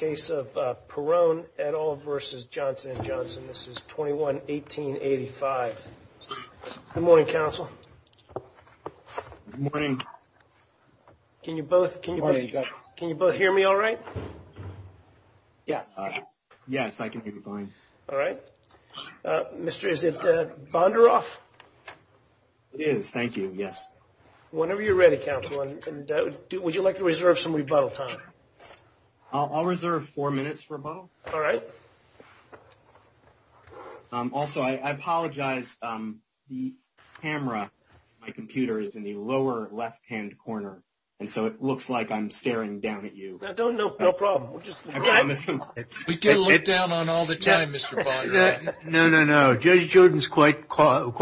is 21-1885. Good morning, counsel. Good morning. Can you both hear me all right? Yes. Yes, I can hear you fine. All right. Mr., is it Bonderoff? It is. Thank you. Yes. Whenever you're ready, I'm going to reserve four minutes for Bob. All right. Also, I apologize. The camera, my computer is in the lower left-hand corner, and so it looks like I'm staring down at you. No, no, no problem. We'll just... We get a look down on all the time, Mr. Bonderoff. No, no, no. Judge Jordan's quite tall. At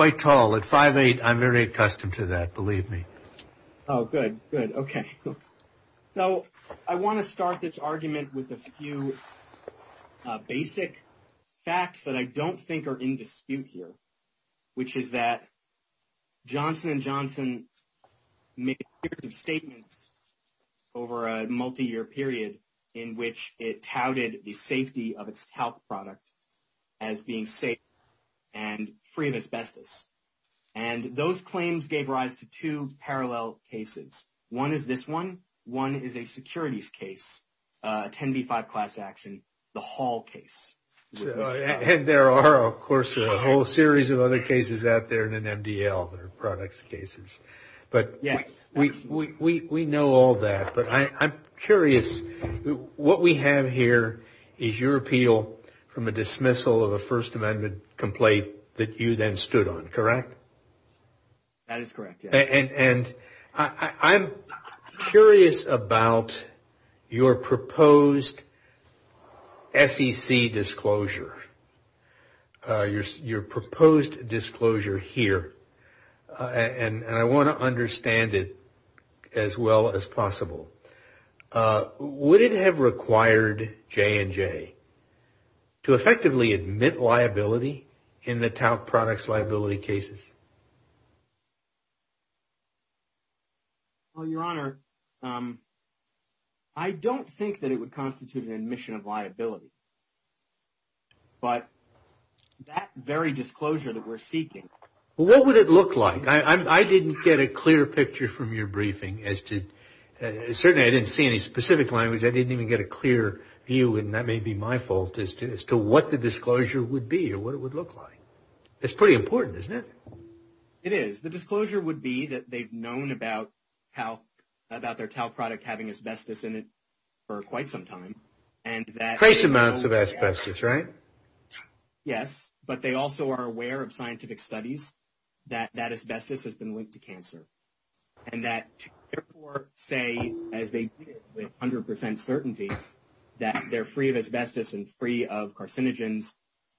5'8", I'm very accustomed to that, believe me. Oh, good, good. Okay. So, I want to start this argument with a few basic facts that I don't think are in dispute here, which is that Johnson & Johnson made a series of statements over a multi-year period in which it touted the safety of its talc product as being safe and free of asbestos. And those claims gave rise to two parallel cases. One is this one. One is a securities case, 10B5 class action, the Hall case. And there are, of course, a whole series of other cases out there in an MDL that are products cases. But we know all that, but I'm curious. What we have here is your appeal from a dismissal of a First Amendment complaint that you then And I'm curious about your proposed SEC disclosure, your proposed disclosure here. And I want to understand it as well as possible. Would it have required J&J to effectively admit liability in the talc products liability cases? Well, Your Honor, I don't think that it would constitute an admission of liability. But that very disclosure that we're seeking. Well, what would it look like? I didn't get a clear picture from your briefing as to, certainly, I didn't see any specific language. I didn't even get a clear view, and that may be my fault, as to what the disclosure would be or what it would look like. It's pretty important, isn't it? It is. The disclosure would be that they've known about their talc product having asbestos in it for quite some time. And trace amounts of asbestos, right? Yes. But they also are aware of scientific studies that that asbestos has been linked to cancer. And that, therefore, say, as they with 100% certainty that they're free of asbestos and free of carcinogens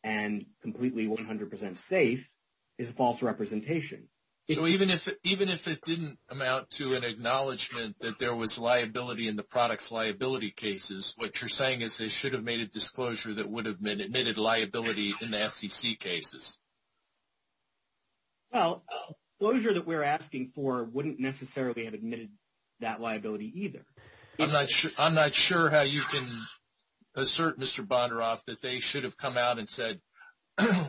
and completely 100% safe is a false representation. So, even if it didn't amount to an acknowledgment that there was liability in the products liability cases, what you're saying is they should have made a disclosure that would have been admitted liability in the SEC cases? Well, the disclosure that we're asking for wouldn't necessarily have admitted that liability either. I'm not sure how you can assert, Mr. Bondaroff, that they should have come out and said,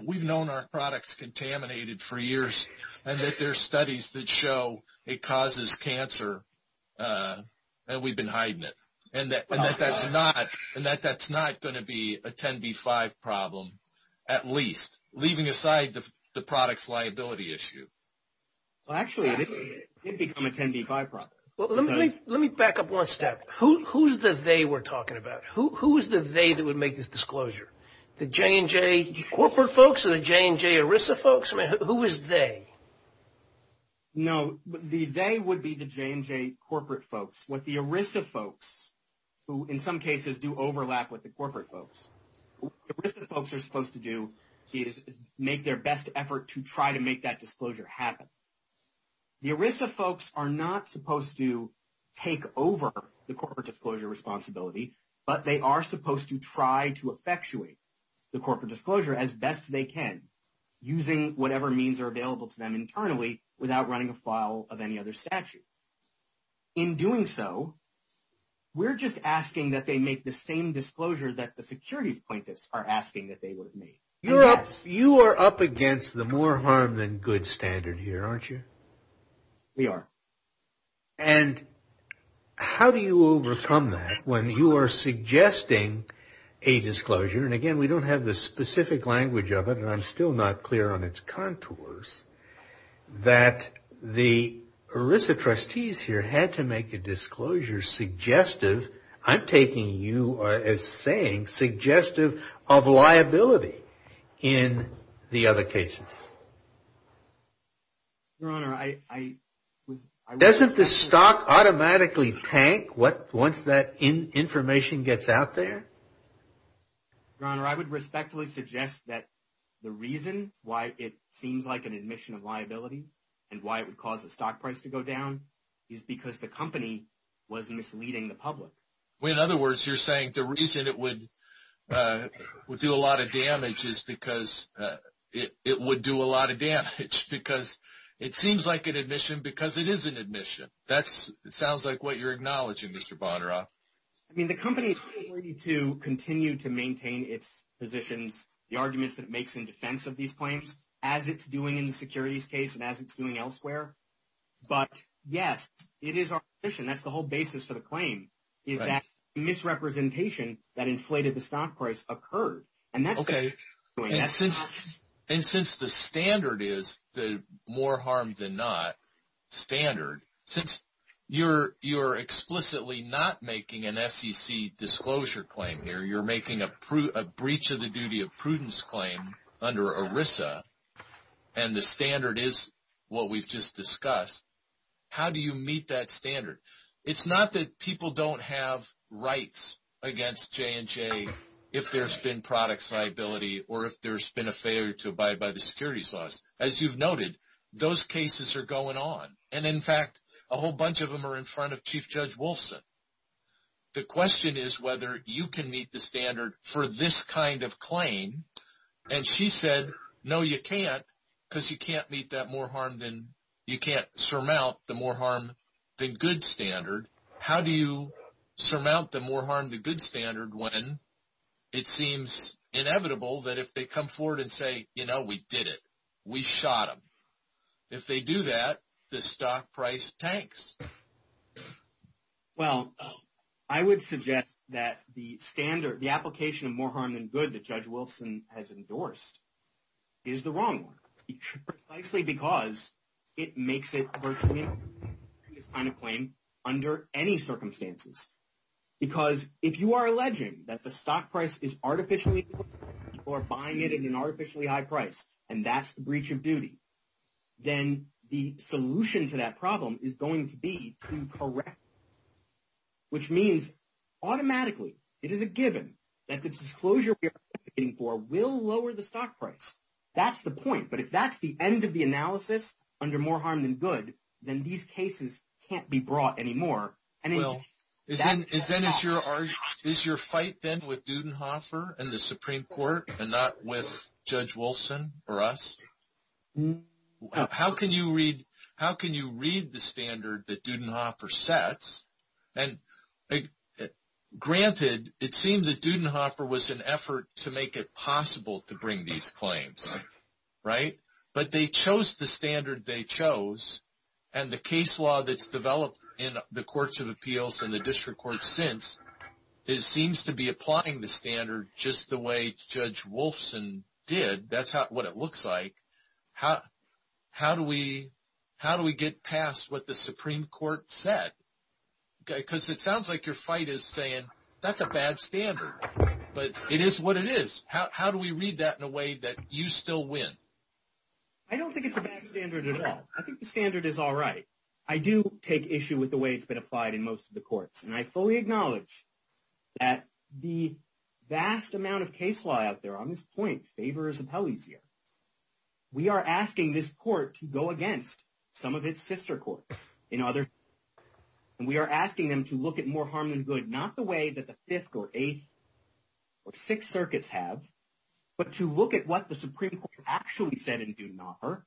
we've known our products contaminated for years and that there are studies that show it causes cancer and we've been hiding it. And that that's not going to be a 10B5 problem, at least, leaving aside the products liability issue. Well, actually, it did become a 10B5 problem. Let me back up one step. Who's the they we're talking about? Who's the they that would make this disclosure? The J&J corporate folks or the J&J ERISA folks? I mean, who is they? No, the they would be the J&J corporate folks. What the ERISA folks, who in some cases do overlap with the corporate folks. What ERISA folks are supposed to do is make their best effort to try to make that disclosure happen. The ERISA folks are not supposed to take over the corporate disclosure responsibility, but they are supposed to try to effectuate the corporate disclosure as best they can using whatever means are available to them internally without running a file of any other statute. In doing so, we're just asking that they make the same disclosure that the securities plaintiffs are asking that they would have made. You're up you are up against the more harm than good standard here, aren't you? We are. And how do you overcome that when you are suggesting a disclosure? And again, we don't have the specific language of it. And I'm still not clear on its contours that the ERISA trustees here had to in the other cases. Your Honor, I... Doesn't the stock automatically tank once that information gets out there? Your Honor, I would respectfully suggest that the reason why it seems like an admission of liability and why it would cause the stock price to go down is because the company was misleading the public. In other words, you're saying the reason it would do a lot of damage is because it would do a lot of damage because it seems like an admission because it is an admission. That sounds like what you're acknowledging, Mr. Bonnera. I mean, the company is ready to continue to maintain its positions, the arguments that it makes in defense of these claims, as it's doing in the securities case and as it's doing that misrepresentation that inflated the stock price occurred. Okay. And since the standard is the more harm than not standard, since you're explicitly not making an SEC disclosure claim here, you're making a breach of the duty of prudence claim under ERISA and the standard is what we've just discussed, how do you meet that standard? It's not that people don't have rights against J&J if there's been product liability or if there's been a failure to abide by the securities laws. As you've noted, those cases are going on. And in fact, a whole bunch of them are in front of Chief Judge Wolfson. The question is whether you can meet the standard for this kind of claim. And she said, no, you can't because you can't meet that more harm than, you can't surmount the more harm than good standard. How do you surmount the more harm than good standard when it seems inevitable that if they come forward and say, you know, we did it, we shot them. If they do that, the stock price tanks. Well, I would suggest that the standard, the application of more harm than good that Judge makes it virtually this kind of claim under any circumstances. Because if you are alleging that the stock price is artificially or buying it in an artificially high price, and that's the breach of duty, then the solution to that problem is going to be to correct. Which means automatically, it is a given that the disclosure we are advocating for will lower the stock price. That's the point. But if that's the end of the analysis under more harm than good, then these cases can't be brought anymore. Well, is your fight then with Dudenhofer and the Supreme Court and not with Judge Wolfson or us? How can you read the standard that Dudenhofer sets? And granted, it seemed that Dudenhofer was an effort to make it possible to bring these claims. Right? But they chose the standard they chose. And the case law that's developed in the Courts of Appeals and the District Courts since, it seems to be applying the standard just the way Judge Wolfson did. That's what it looks like. How do we get past what the Supreme Court said? Because it sounds like your fight is saying, that's a bad standard. But it is what it is. How do we read that in a way that you still win? I don't think it's a bad standard at all. I think the standard is all right. I do take issue with the way it's been applied in most of the courts. And I fully acknowledge that the vast amount of case law out there on this point, favors appellees here. We are asking this court to go against some of its sister courts in other. And we are asking them to look at more harm than good, not the way that the 5th or 8th or 6th circuits have. But to look at what the Supreme Court actually said in Dunar.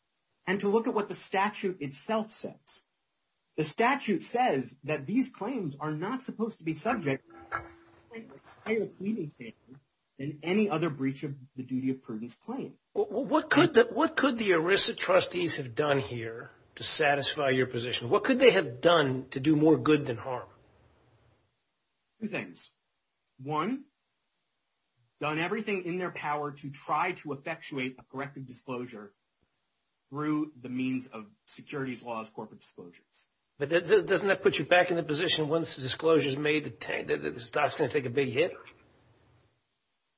And to look at what the statute itself says. The statute says that these claims are not supposed to be subject than any other breach of the duty of prudence claim. What could the ERISA trustees have done here to satisfy your position? What could they have done to do more good than harm? Two things. One, done everything in their power to try to effectuate a corrective disclosure through the means of securities laws, corporate disclosures. But doesn't that put you back in the position once the disclosure is made that this is not going to take a big hit?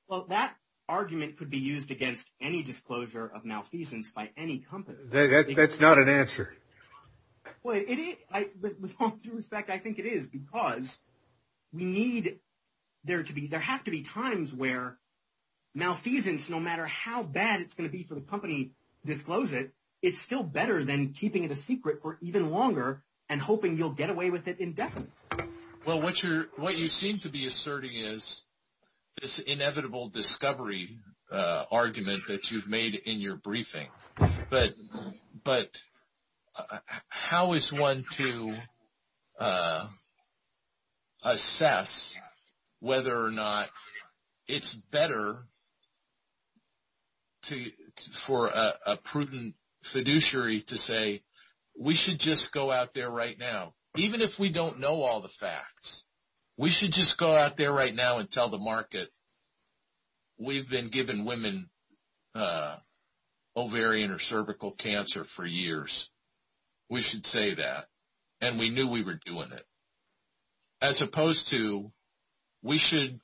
Well, that argument could be used against any disclosure of malfeasance by any company. That's not an answer. Well, with all due respect, I think it is. Because there have to be times where malfeasance, no matter how bad it's going to be for the company to disclose it, it's still better than keeping it a secret for even longer and hoping you'll get away with it indefinitely. Well, what you seem to be asserting is this inevitable discovery argument that you've made in your briefing. But how is one to assess whether or not it's better for a prudent fiduciary to say, we should just go out there right now. Even if we don't know all the facts, we should just go out there right now and tell the market that we've been giving women ovarian or cervical cancer for years. We should say that. And we knew we were doing it. As opposed to, we should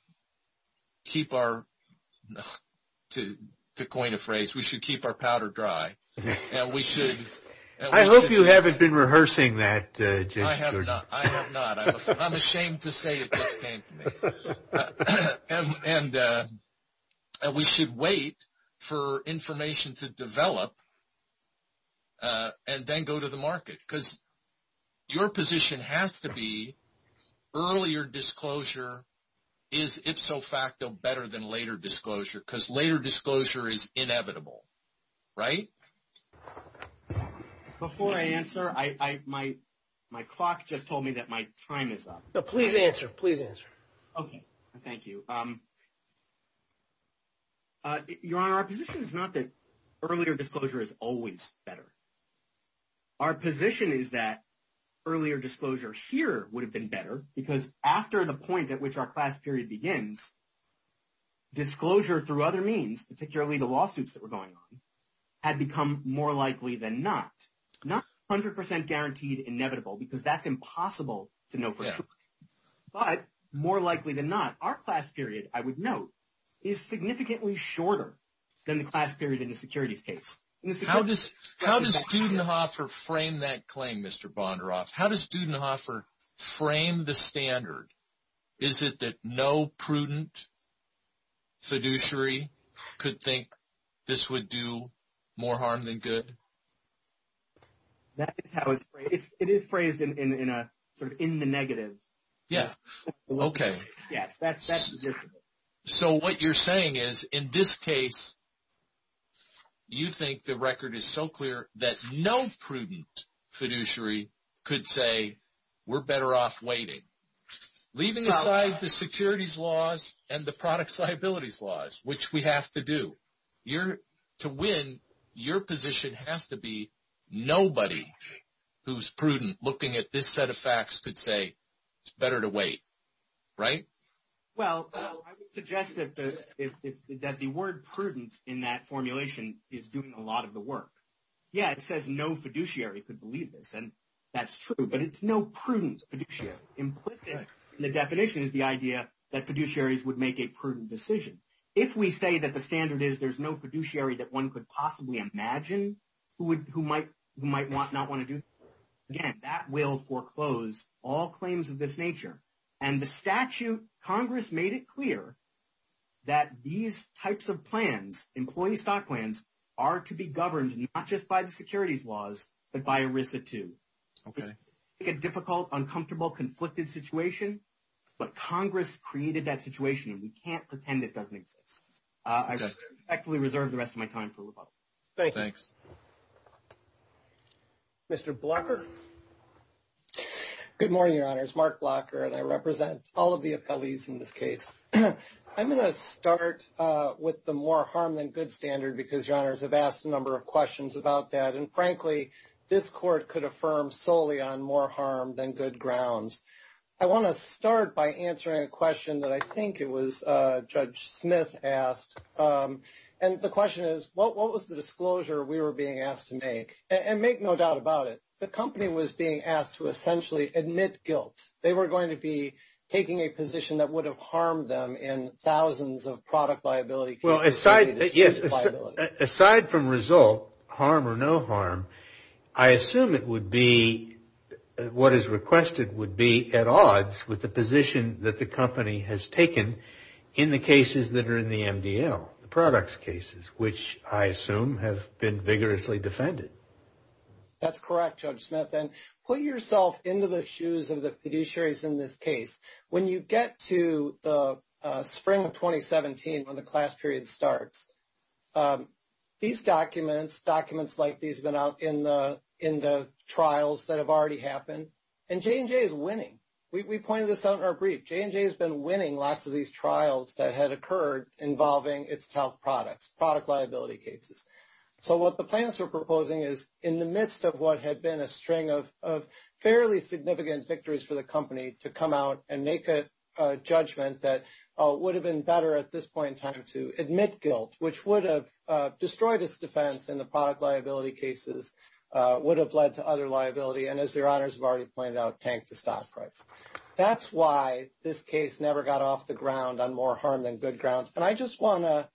keep our, to coin a phrase, we should keep our powder dry. And we should- I hope you haven't been rehearsing that, James Jordan. I have not. I have not. I'm ashamed to say it just came to me. And we should wait for information to develop and then go to the market. Because your position has to be, earlier disclosure is ipso facto better than later disclosure. Because later disclosure is inevitable, right? Before I answer, my clock just told me that my time is up. No, please answer. Please answer. Okay, thank you. Your Honor, our position is not that earlier disclosure is always better. Our position is that earlier disclosure here would have been better because after the point at which our class period begins, disclosure through other means, particularly the lawsuits that were going on, had become more likely than not. Not 100% guaranteed inevitable, because that's impossible to know for sure. But more likely than not, our class period, I would note, is significantly shorter than the class period in the securities case. How does Dudenhofer frame that claim, Mr. Bondaroff? How does Dudenhofer frame the standard? Is it that no prudent fiduciary could think this would do more harm than good? That is how it's phrased. It is phrased in a sort of in the negative. Yes, okay. Yes, that's the difference. So what you're saying is in this case, you think the record is so clear that no prudent fiduciary could say, we're better off waiting. Leaving aside the securities laws and the product liabilities laws, which we have to do. To win, your position has to be nobody who's prudent looking at this set of facts could say, it's better to wait, right? Well, I would suggest that the word prudent in that formulation is doing a lot of the work. Yeah, it says no fiduciary could believe this, and that's true. But it's no prudent fiduciary. Implicit in the definition is the idea that fiduciaries would make a prudent decision. If we say that the standard is there's no fiduciary that one could possibly imagine who might not want to do, again, that will foreclose all claims of this nature. And the statute, Congress made it clear that these types of plans, employee stock plans are to be governed, not just by the securities laws, but by ERISA too. Okay. It's a difficult, uncomfortable, conflicted situation, but Congress created that situation and we can't pretend it doesn't exist. I respectfully reserve the rest of my time for rebuttal. Thanks. Mr. Blocker. Good morning, your honors. My name is Mark Blocker, and I represent all of the appellees in this case. I'm going to start with the more harm than good standard because your honors have asked a number of questions about that. And frankly, this court could affirm solely on more harm than good grounds. I want to start by answering a question that I think it was Judge Smith asked. And the question is, what was the disclosure we were being asked to make? And make no doubt about it. The company was being asked to essentially admit guilt. They were going to be taking a position that would have harmed them in thousands of product liability cases. Well, aside from result, harm or no harm, I assume it would be what is requested would be at odds with the position that the company has taken in the cases that are in the MDL, the products cases, which I assume have been vigorously defended. That's correct, Judge Smith. And put yourself into the shoes of the fiduciaries in this case. When you get to the spring of 2017, when the class period starts, these documents, documents like these have been out in the trials that have already happened. And J&J is winning. We pointed this out in our brief. J&J has been winning lots of these trials that had occurred involving its top products, product liability cases. So what the plans are proposing is in the midst of what had been a string of fairly significant victories for the company to come out and make a judgment that would have been better at this point in time to admit guilt, which would have destroyed its defense in the product liability cases, would have led to other liability. And as their honors have already pointed out, tank the stock rights. That's why this case never got off the ground on more harm than good grounds. And I just want to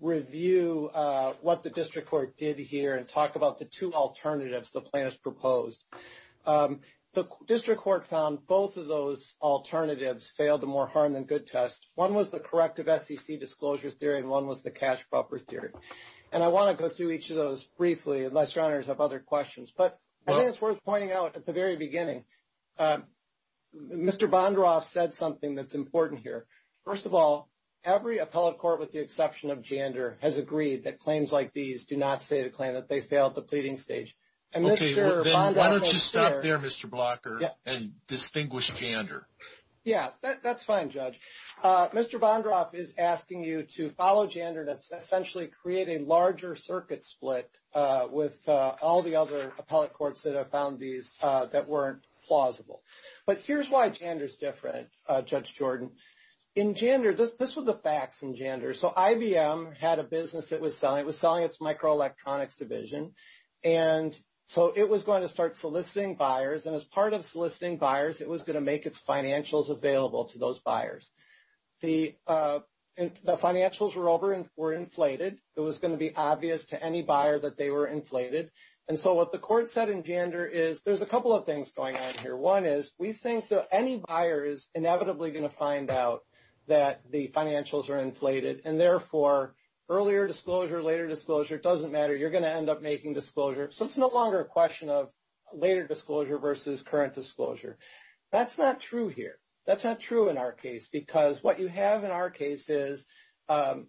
review what the district court did here and talk about the two alternatives the plan has proposed. The district court found both of those alternatives failed the more harm than good test. One was the corrective SEC disclosure theory and one was the cash buffer theory. And I want to go through each of those briefly unless your honors have other questions. But I think it's worth pointing out at the very beginning. Mr. Bondroff said something that's important here. First of all, every appellate court, with the exception of Jander, has agreed that claims like these do not state a claim that they failed the pleading stage. And Mr. Bondroff was clear. Okay, then why don't you stop there, Mr. Blocker, and distinguish Jander. Yeah, that's fine, Judge. Mr. Bondroff is asking you to follow Jander and essentially create a larger circuit split with all the other appellate courts that have found these that weren't plausible. But here's why Jander's different, Judge Jordan. In Jander, this was a fax in Jander. So IBM had a business that was selling. It was selling its microelectronics division. And so it was going to start soliciting buyers. And as part of soliciting buyers, it was going to make its financials available to those buyers. The financials were over and were inflated. It was going to be obvious to any buyer that they were inflated. And so what the court said in Jander is there's a couple of things going on here. One is we think that any buyer is inevitably going to find out that the financials are inflated. And therefore, earlier disclosure, later disclosure, it doesn't matter. You're going to end up making disclosure. So it's no longer a question of later disclosure versus current disclosure. That's not true here. That's not true in our case. Because what you have in our case is an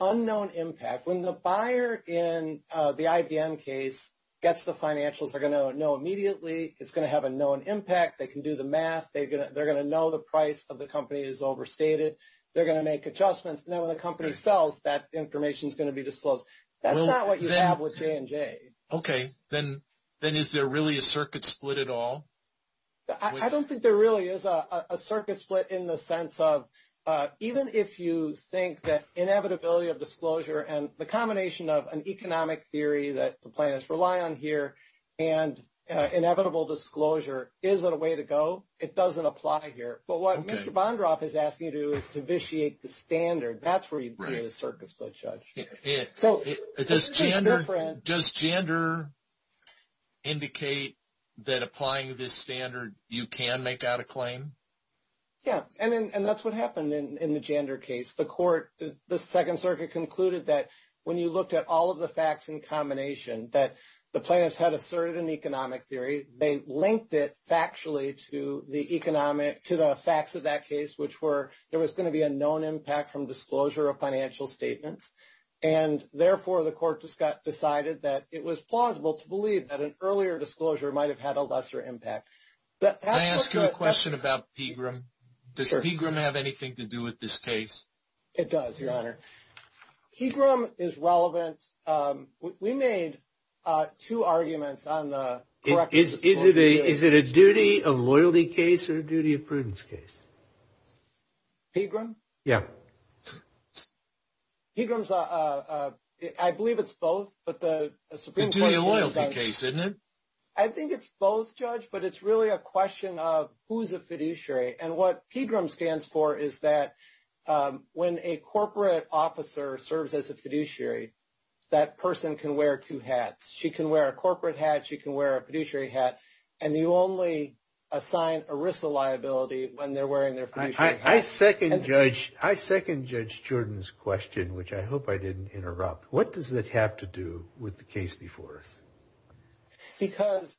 unknown impact. When the buyer in the IBM case gets the financials, they're going to know immediately. It's going to have a known impact. They can do the math. They're going to know the price of the company is overstated. They're going to make adjustments. And then when the company sells, that information is going to be disclosed. That's not what you have with J&J. OK. Then is there really a circuit split at all? I don't think there really is a circuit split in the sense of even if you think that inevitability of disclosure and the combination of an economic theory that the plaintiffs rely on here and inevitable disclosure isn't a way to go, it doesn't apply here. But what Mr. Bondroff is asking you to do is to vitiate the standard. That's where you do the circuit split, Judge. So does gender indicate that applying this standard, you can make out a claim? Yeah. And that's what happened in the gender case. The court, the Second Circuit concluded that when you looked at all of the facts in combination, that the plaintiffs had asserted an economic theory, they linked it factually to the facts of that case, which were there was going to be a known impact from disclosure of financial statements. And therefore, the court decided that it was plausible to believe that an earlier disclosure might have had a lesser impact. Can I ask you a question about PGRM? Does PGRM have anything to do with this case? It does, Your Honor. PGRM is relevant. We made two arguments on the- Is it a duty of loyalty case or a duty of prudence case? PGRM? Yeah. PGRM, I believe it's both, but the Supreme Court- It's a duty of loyalty case, isn't it? I think it's both, Judge, but it's really a question of who's a fiduciary. And what PGRM stands for is that when a corporate officer serves as a fiduciary, that person can wear two hats. She can wear a corporate hat. She can wear a fiduciary hat. And you only assign ERISA liability when they're wearing their fiduciary hat. I second Judge Jordan's question, which I hope I didn't interrupt. What does that have to do with the case before us? Because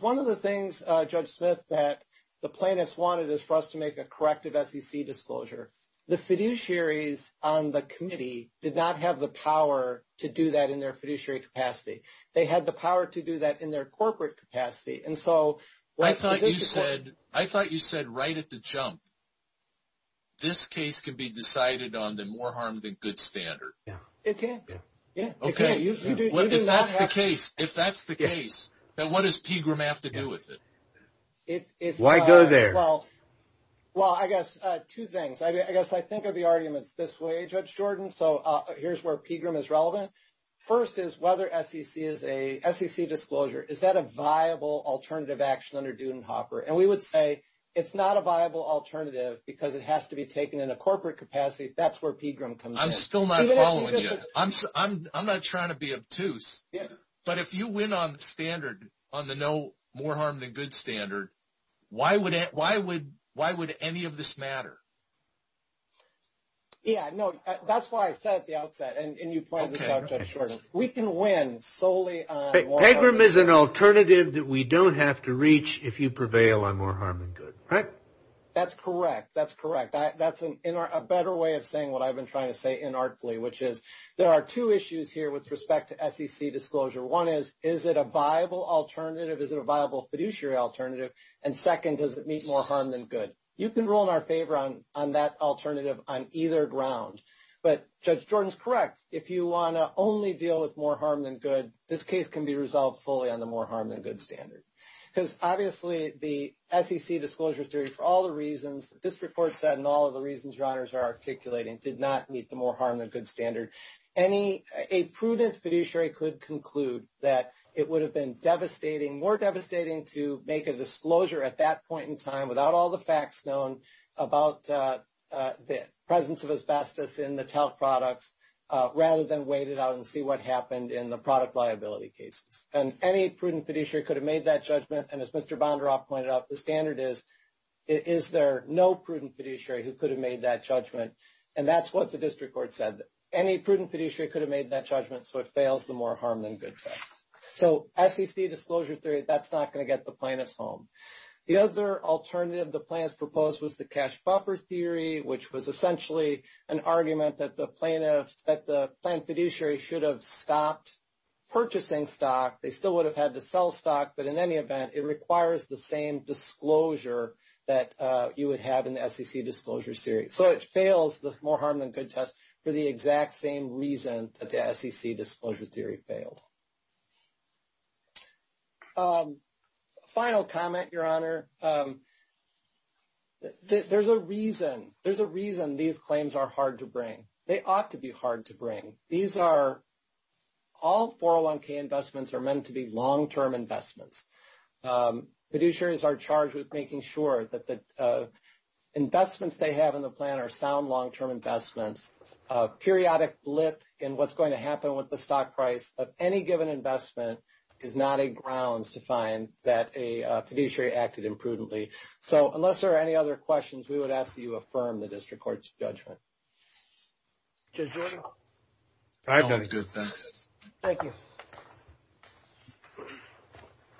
one of the things, Judge Smith, that the plaintiffs wanted is for us to make a corrective SEC disclosure. The fiduciaries on the committee did not have the power to do that in their fiduciary capacity. They had the power to do that in their corporate capacity. And so- I thought you said right at the jump, this case can be decided on the more harm than good standard. It can. Okay. If that's the case, then what does PGRM have to do with it? Why go there? Well, I guess two things. I guess I think of the arguments this way, Judge Jordan. So here's where PGRM is relevant. First is whether SEC disclosure, is that a viable alternative action under Dudenhofer? And we would say it's not a viable alternative because it has to be taken in a corporate capacity. That's where PGRM comes in. I'm still not following you. I'm not trying to be obtuse. But if you win on the standard, on the no more harm than good standard, why would any of this matter? Yeah, no. That's why I said at the outset, and you pointed this out, Judge Jordan. We can win solely on- PGRM is an alternative that we don't have to reach if you prevail on more harm than good, right? That's correct. That's correct. That's a better way of saying what I've been trying to say inartfully, which is there are two issues here with respect to SEC disclosure. One is, is it a viable alternative? Is it a viable fiduciary alternative? And second, does it meet more harm than good? You can rule in our favor on that alternative on either ground. But Judge Jordan's correct. If you want to only deal with more harm than good, this case can be resolved fully on the more harm than good standard. Because obviously, the SEC disclosure theory, for all the reasons that this report said and all of the reasons your honors are articulating, did not meet the more harm than good standard. A prudent fiduciary could conclude that it would have been devastating, more devastating to make a disclosure at that point in time without all the facts known about the presence of asbestos in the TELC products, rather than wait it out and see what happened in the product liability cases. And any prudent fiduciary could have made that judgment. And as Mr. Bondaroff pointed out, the standard is, is there no prudent fiduciary who could have made that judgment? And that's what the district court said. Any prudent fiduciary could have made that judgment. So it fails the more harm than good test. So SEC disclosure theory, that's not going to get the plaintiffs home. The other alternative the plaintiffs proposed was the cash buffer theory, which was essentially an argument that the plaintiff, that the plaintiff fiduciary should have stopped purchasing stock. They still would have had to sell stock. But in any event, it requires the same disclosure that you would have in the SEC disclosure series. So it fails the more harm than good test for the exact same reason that the SEC disclosure theory failed. A final comment, Your Honor. There's a reason, there's a reason these claims are hard to bring. They ought to be hard to bring. These are, all 401k investments are meant to be long-term investments. Fiduciaries are charged with making sure that the investments they have in the plan are sound long-term investments, periodic blip in what's going to happen with the stock price of any given investment is not a grounds to find that a fiduciary acted imprudently. So unless there are any other questions, we would ask that you affirm the district court's judgment. Judge Jordan? I've done good, thanks. Thank you.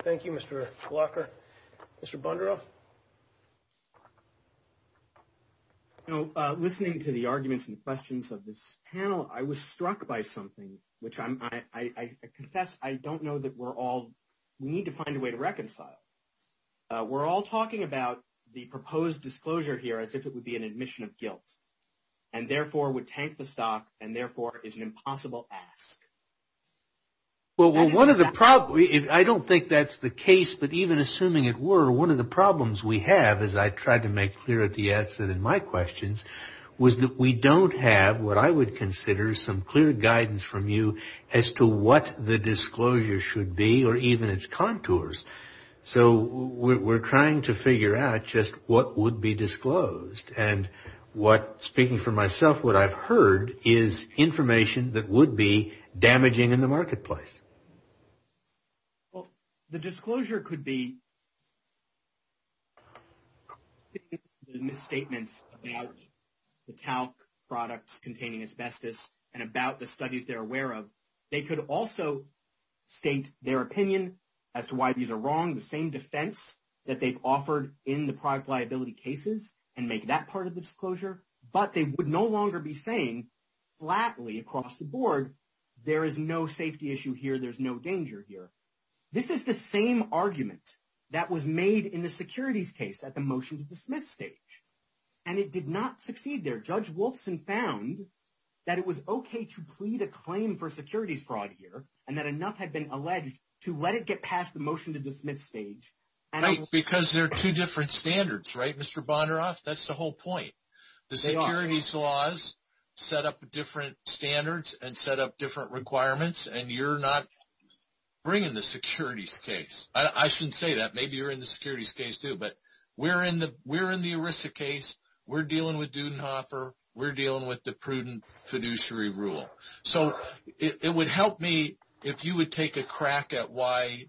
Thank you, Mr. Walker. Mr. Bundro? You know, listening to the arguments and questions of this panel, I was struck by something, which I confess, I don't know that we're all, we need to find a way to reconcile. We're all talking about the proposed disclosure here as if it would be an admission of guilt and therefore would tank the stock and therefore is an impossible ask. Well, one of the problems, I don't think that's the case, but even assuming it were, one of the problems we have, as I tried to make clear at the outset in my questions, was that we don't have what I would consider some clear guidance from you as to what the disclosure should be or even its contours. So we're trying to figure out just what would be disclosed and what, speaking for myself, what I've heard is information that would be damaging in the marketplace. Well, the disclosure could be the misstatements about the talc products containing asbestos and about the studies they're aware of. They could also state their opinion as to why these are wrong, the same defense that they've offered in the product liability cases and make that part of the disclosure, but they would no longer be saying flatly across the board, there is no safety issue here, there's no danger here. This is the same argument that was made in the securities case at the motion to dismiss stage and it did not succeed there. Judge Wolfson found that it was okay to plead a claim for securities fraud here and that enough had been alleged to let it get past the motion to dismiss stage. Because there are two different standards, right, Mr. Bondaroff? That's the whole point. The securities laws set up different standards and set up different requirements and you're not bringing the securities case. I shouldn't say that. Maybe you're in the securities case too, but we're in the ERISA case. We're dealing with Dudenhofer. We're dealing with the prudent fiduciary rule. So it would help me if you would take a crack at why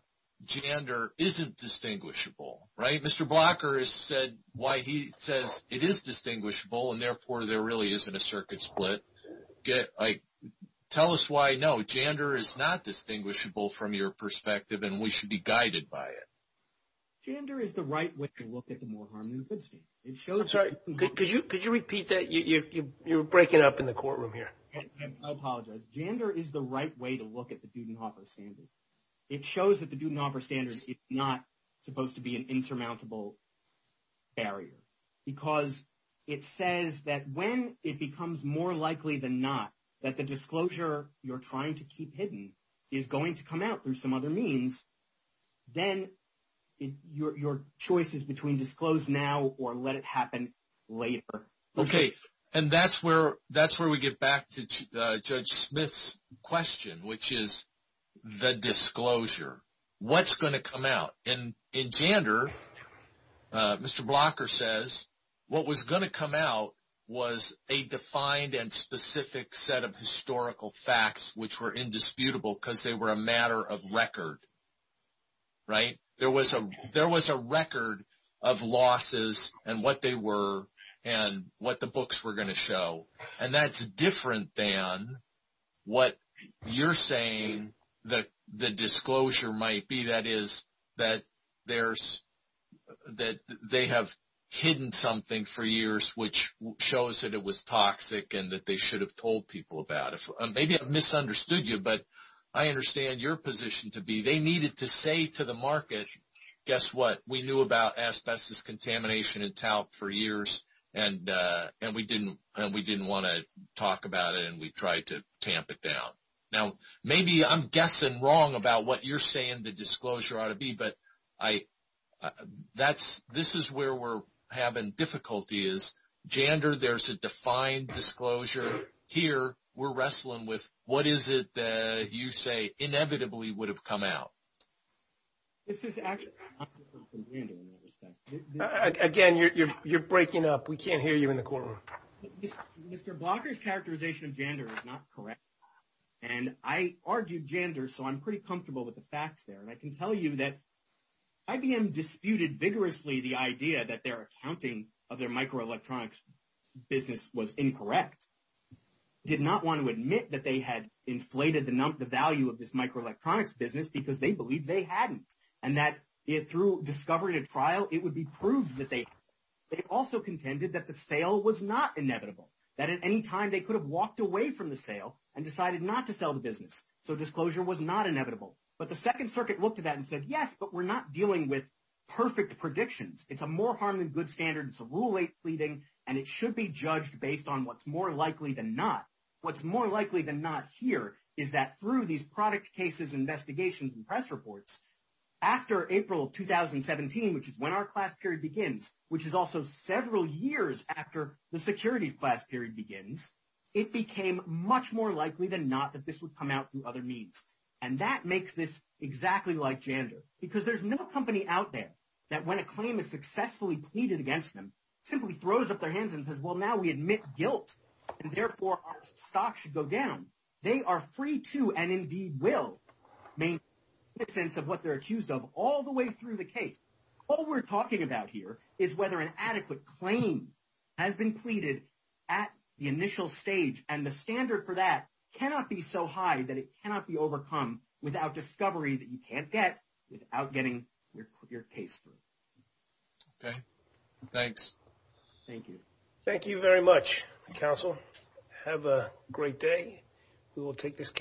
gender isn't distinguishable, right? Mr. Blocker has said why he says it is distinguishable and therefore there really isn't a circuit split. I tell us why no, gender is not distinguishable from your perspective and we should be guided by it. Gender is the right way to look at the more harm than good scheme. It shows right. Could you repeat that? You're breaking up in the courtroom here. I apologize. Gender is the right way to look at the Dudenhofer standard. It shows that the Dudenhofer standard is not supposed to be an insurmountable barrier because it says that when it becomes more likely than not that the disclosure you're trying to keep hidden is going to come out through some other means, then your choice is between disclose now or let it happen later. Okay. And that's where we get back to Judge Smith's question, which is the disclosure. What's going to come out? In gender, Mr. Blocker says what was going to come out was a defined and specific set of historical facts which were indisputable because they were a matter of record. Right? There was a record of losses and what they were and what the books were going to show. And that's different than what you're saying that the disclosure might be. That is that they have hidden something for years which shows that it was toxic and that they should have told people about it. Maybe I've misunderstood you, but I understand your position to be they needed to say to the market, guess what? We knew about asbestos contamination and talc for years and we didn't want to talk about it and we tried to tamp it down. Now, maybe I'm guessing wrong about what you're saying the disclosure ought to be, but this is where we're having difficulty is gender, there's a defined disclosure. Here, we're wrestling with what is it that you say inevitably would have come out? This is actually... Again, you're breaking up. We can't hear you in the courtroom. Mr. Blocker's characterization of gender is not correct. And I argued gender, so I'm pretty comfortable with the facts there. And I can tell you that IBM disputed vigorously the idea that their accounting of their microelectronics business was incorrect. They did not want to admit that they had inflated the value of this microelectronics business because they believed they hadn't. And that through discovery to trial, it would be proved that they had. They also contended that the sale was not inevitable, that at any time they could have walked away from the sale and decided not to sell the business. So disclosure was not inevitable. But the second circuit looked at that and said, yes, but we're not dealing with perfect predictions. It's a more harm than good standard. It's a rule eight pleading, and it should be judged based on what's more likely than not. What's more likely than not here is that through these product cases, investigations, and press reports after April 2017, which is when our class period begins, which is also several years after the securities class period begins, it became much more likely than not that this would come out through other means. And that makes this exactly like gender because there's no company out there that when a claim is successfully pleaded against them, simply throws up their hands and says, well, now we admit guilt. And therefore our stock should go down. They are free to, and indeed will, make sense of what they're accused of all the way through the case. All we're talking about here is whether an adequate claim has been pleaded at the initial stage. And the standard for that cannot be so high that it cannot be overcome without discovery that you can't get without getting your case through. Okay. Thanks. Thank you. Thank you very much. Counsel, have a great day. We will take this case.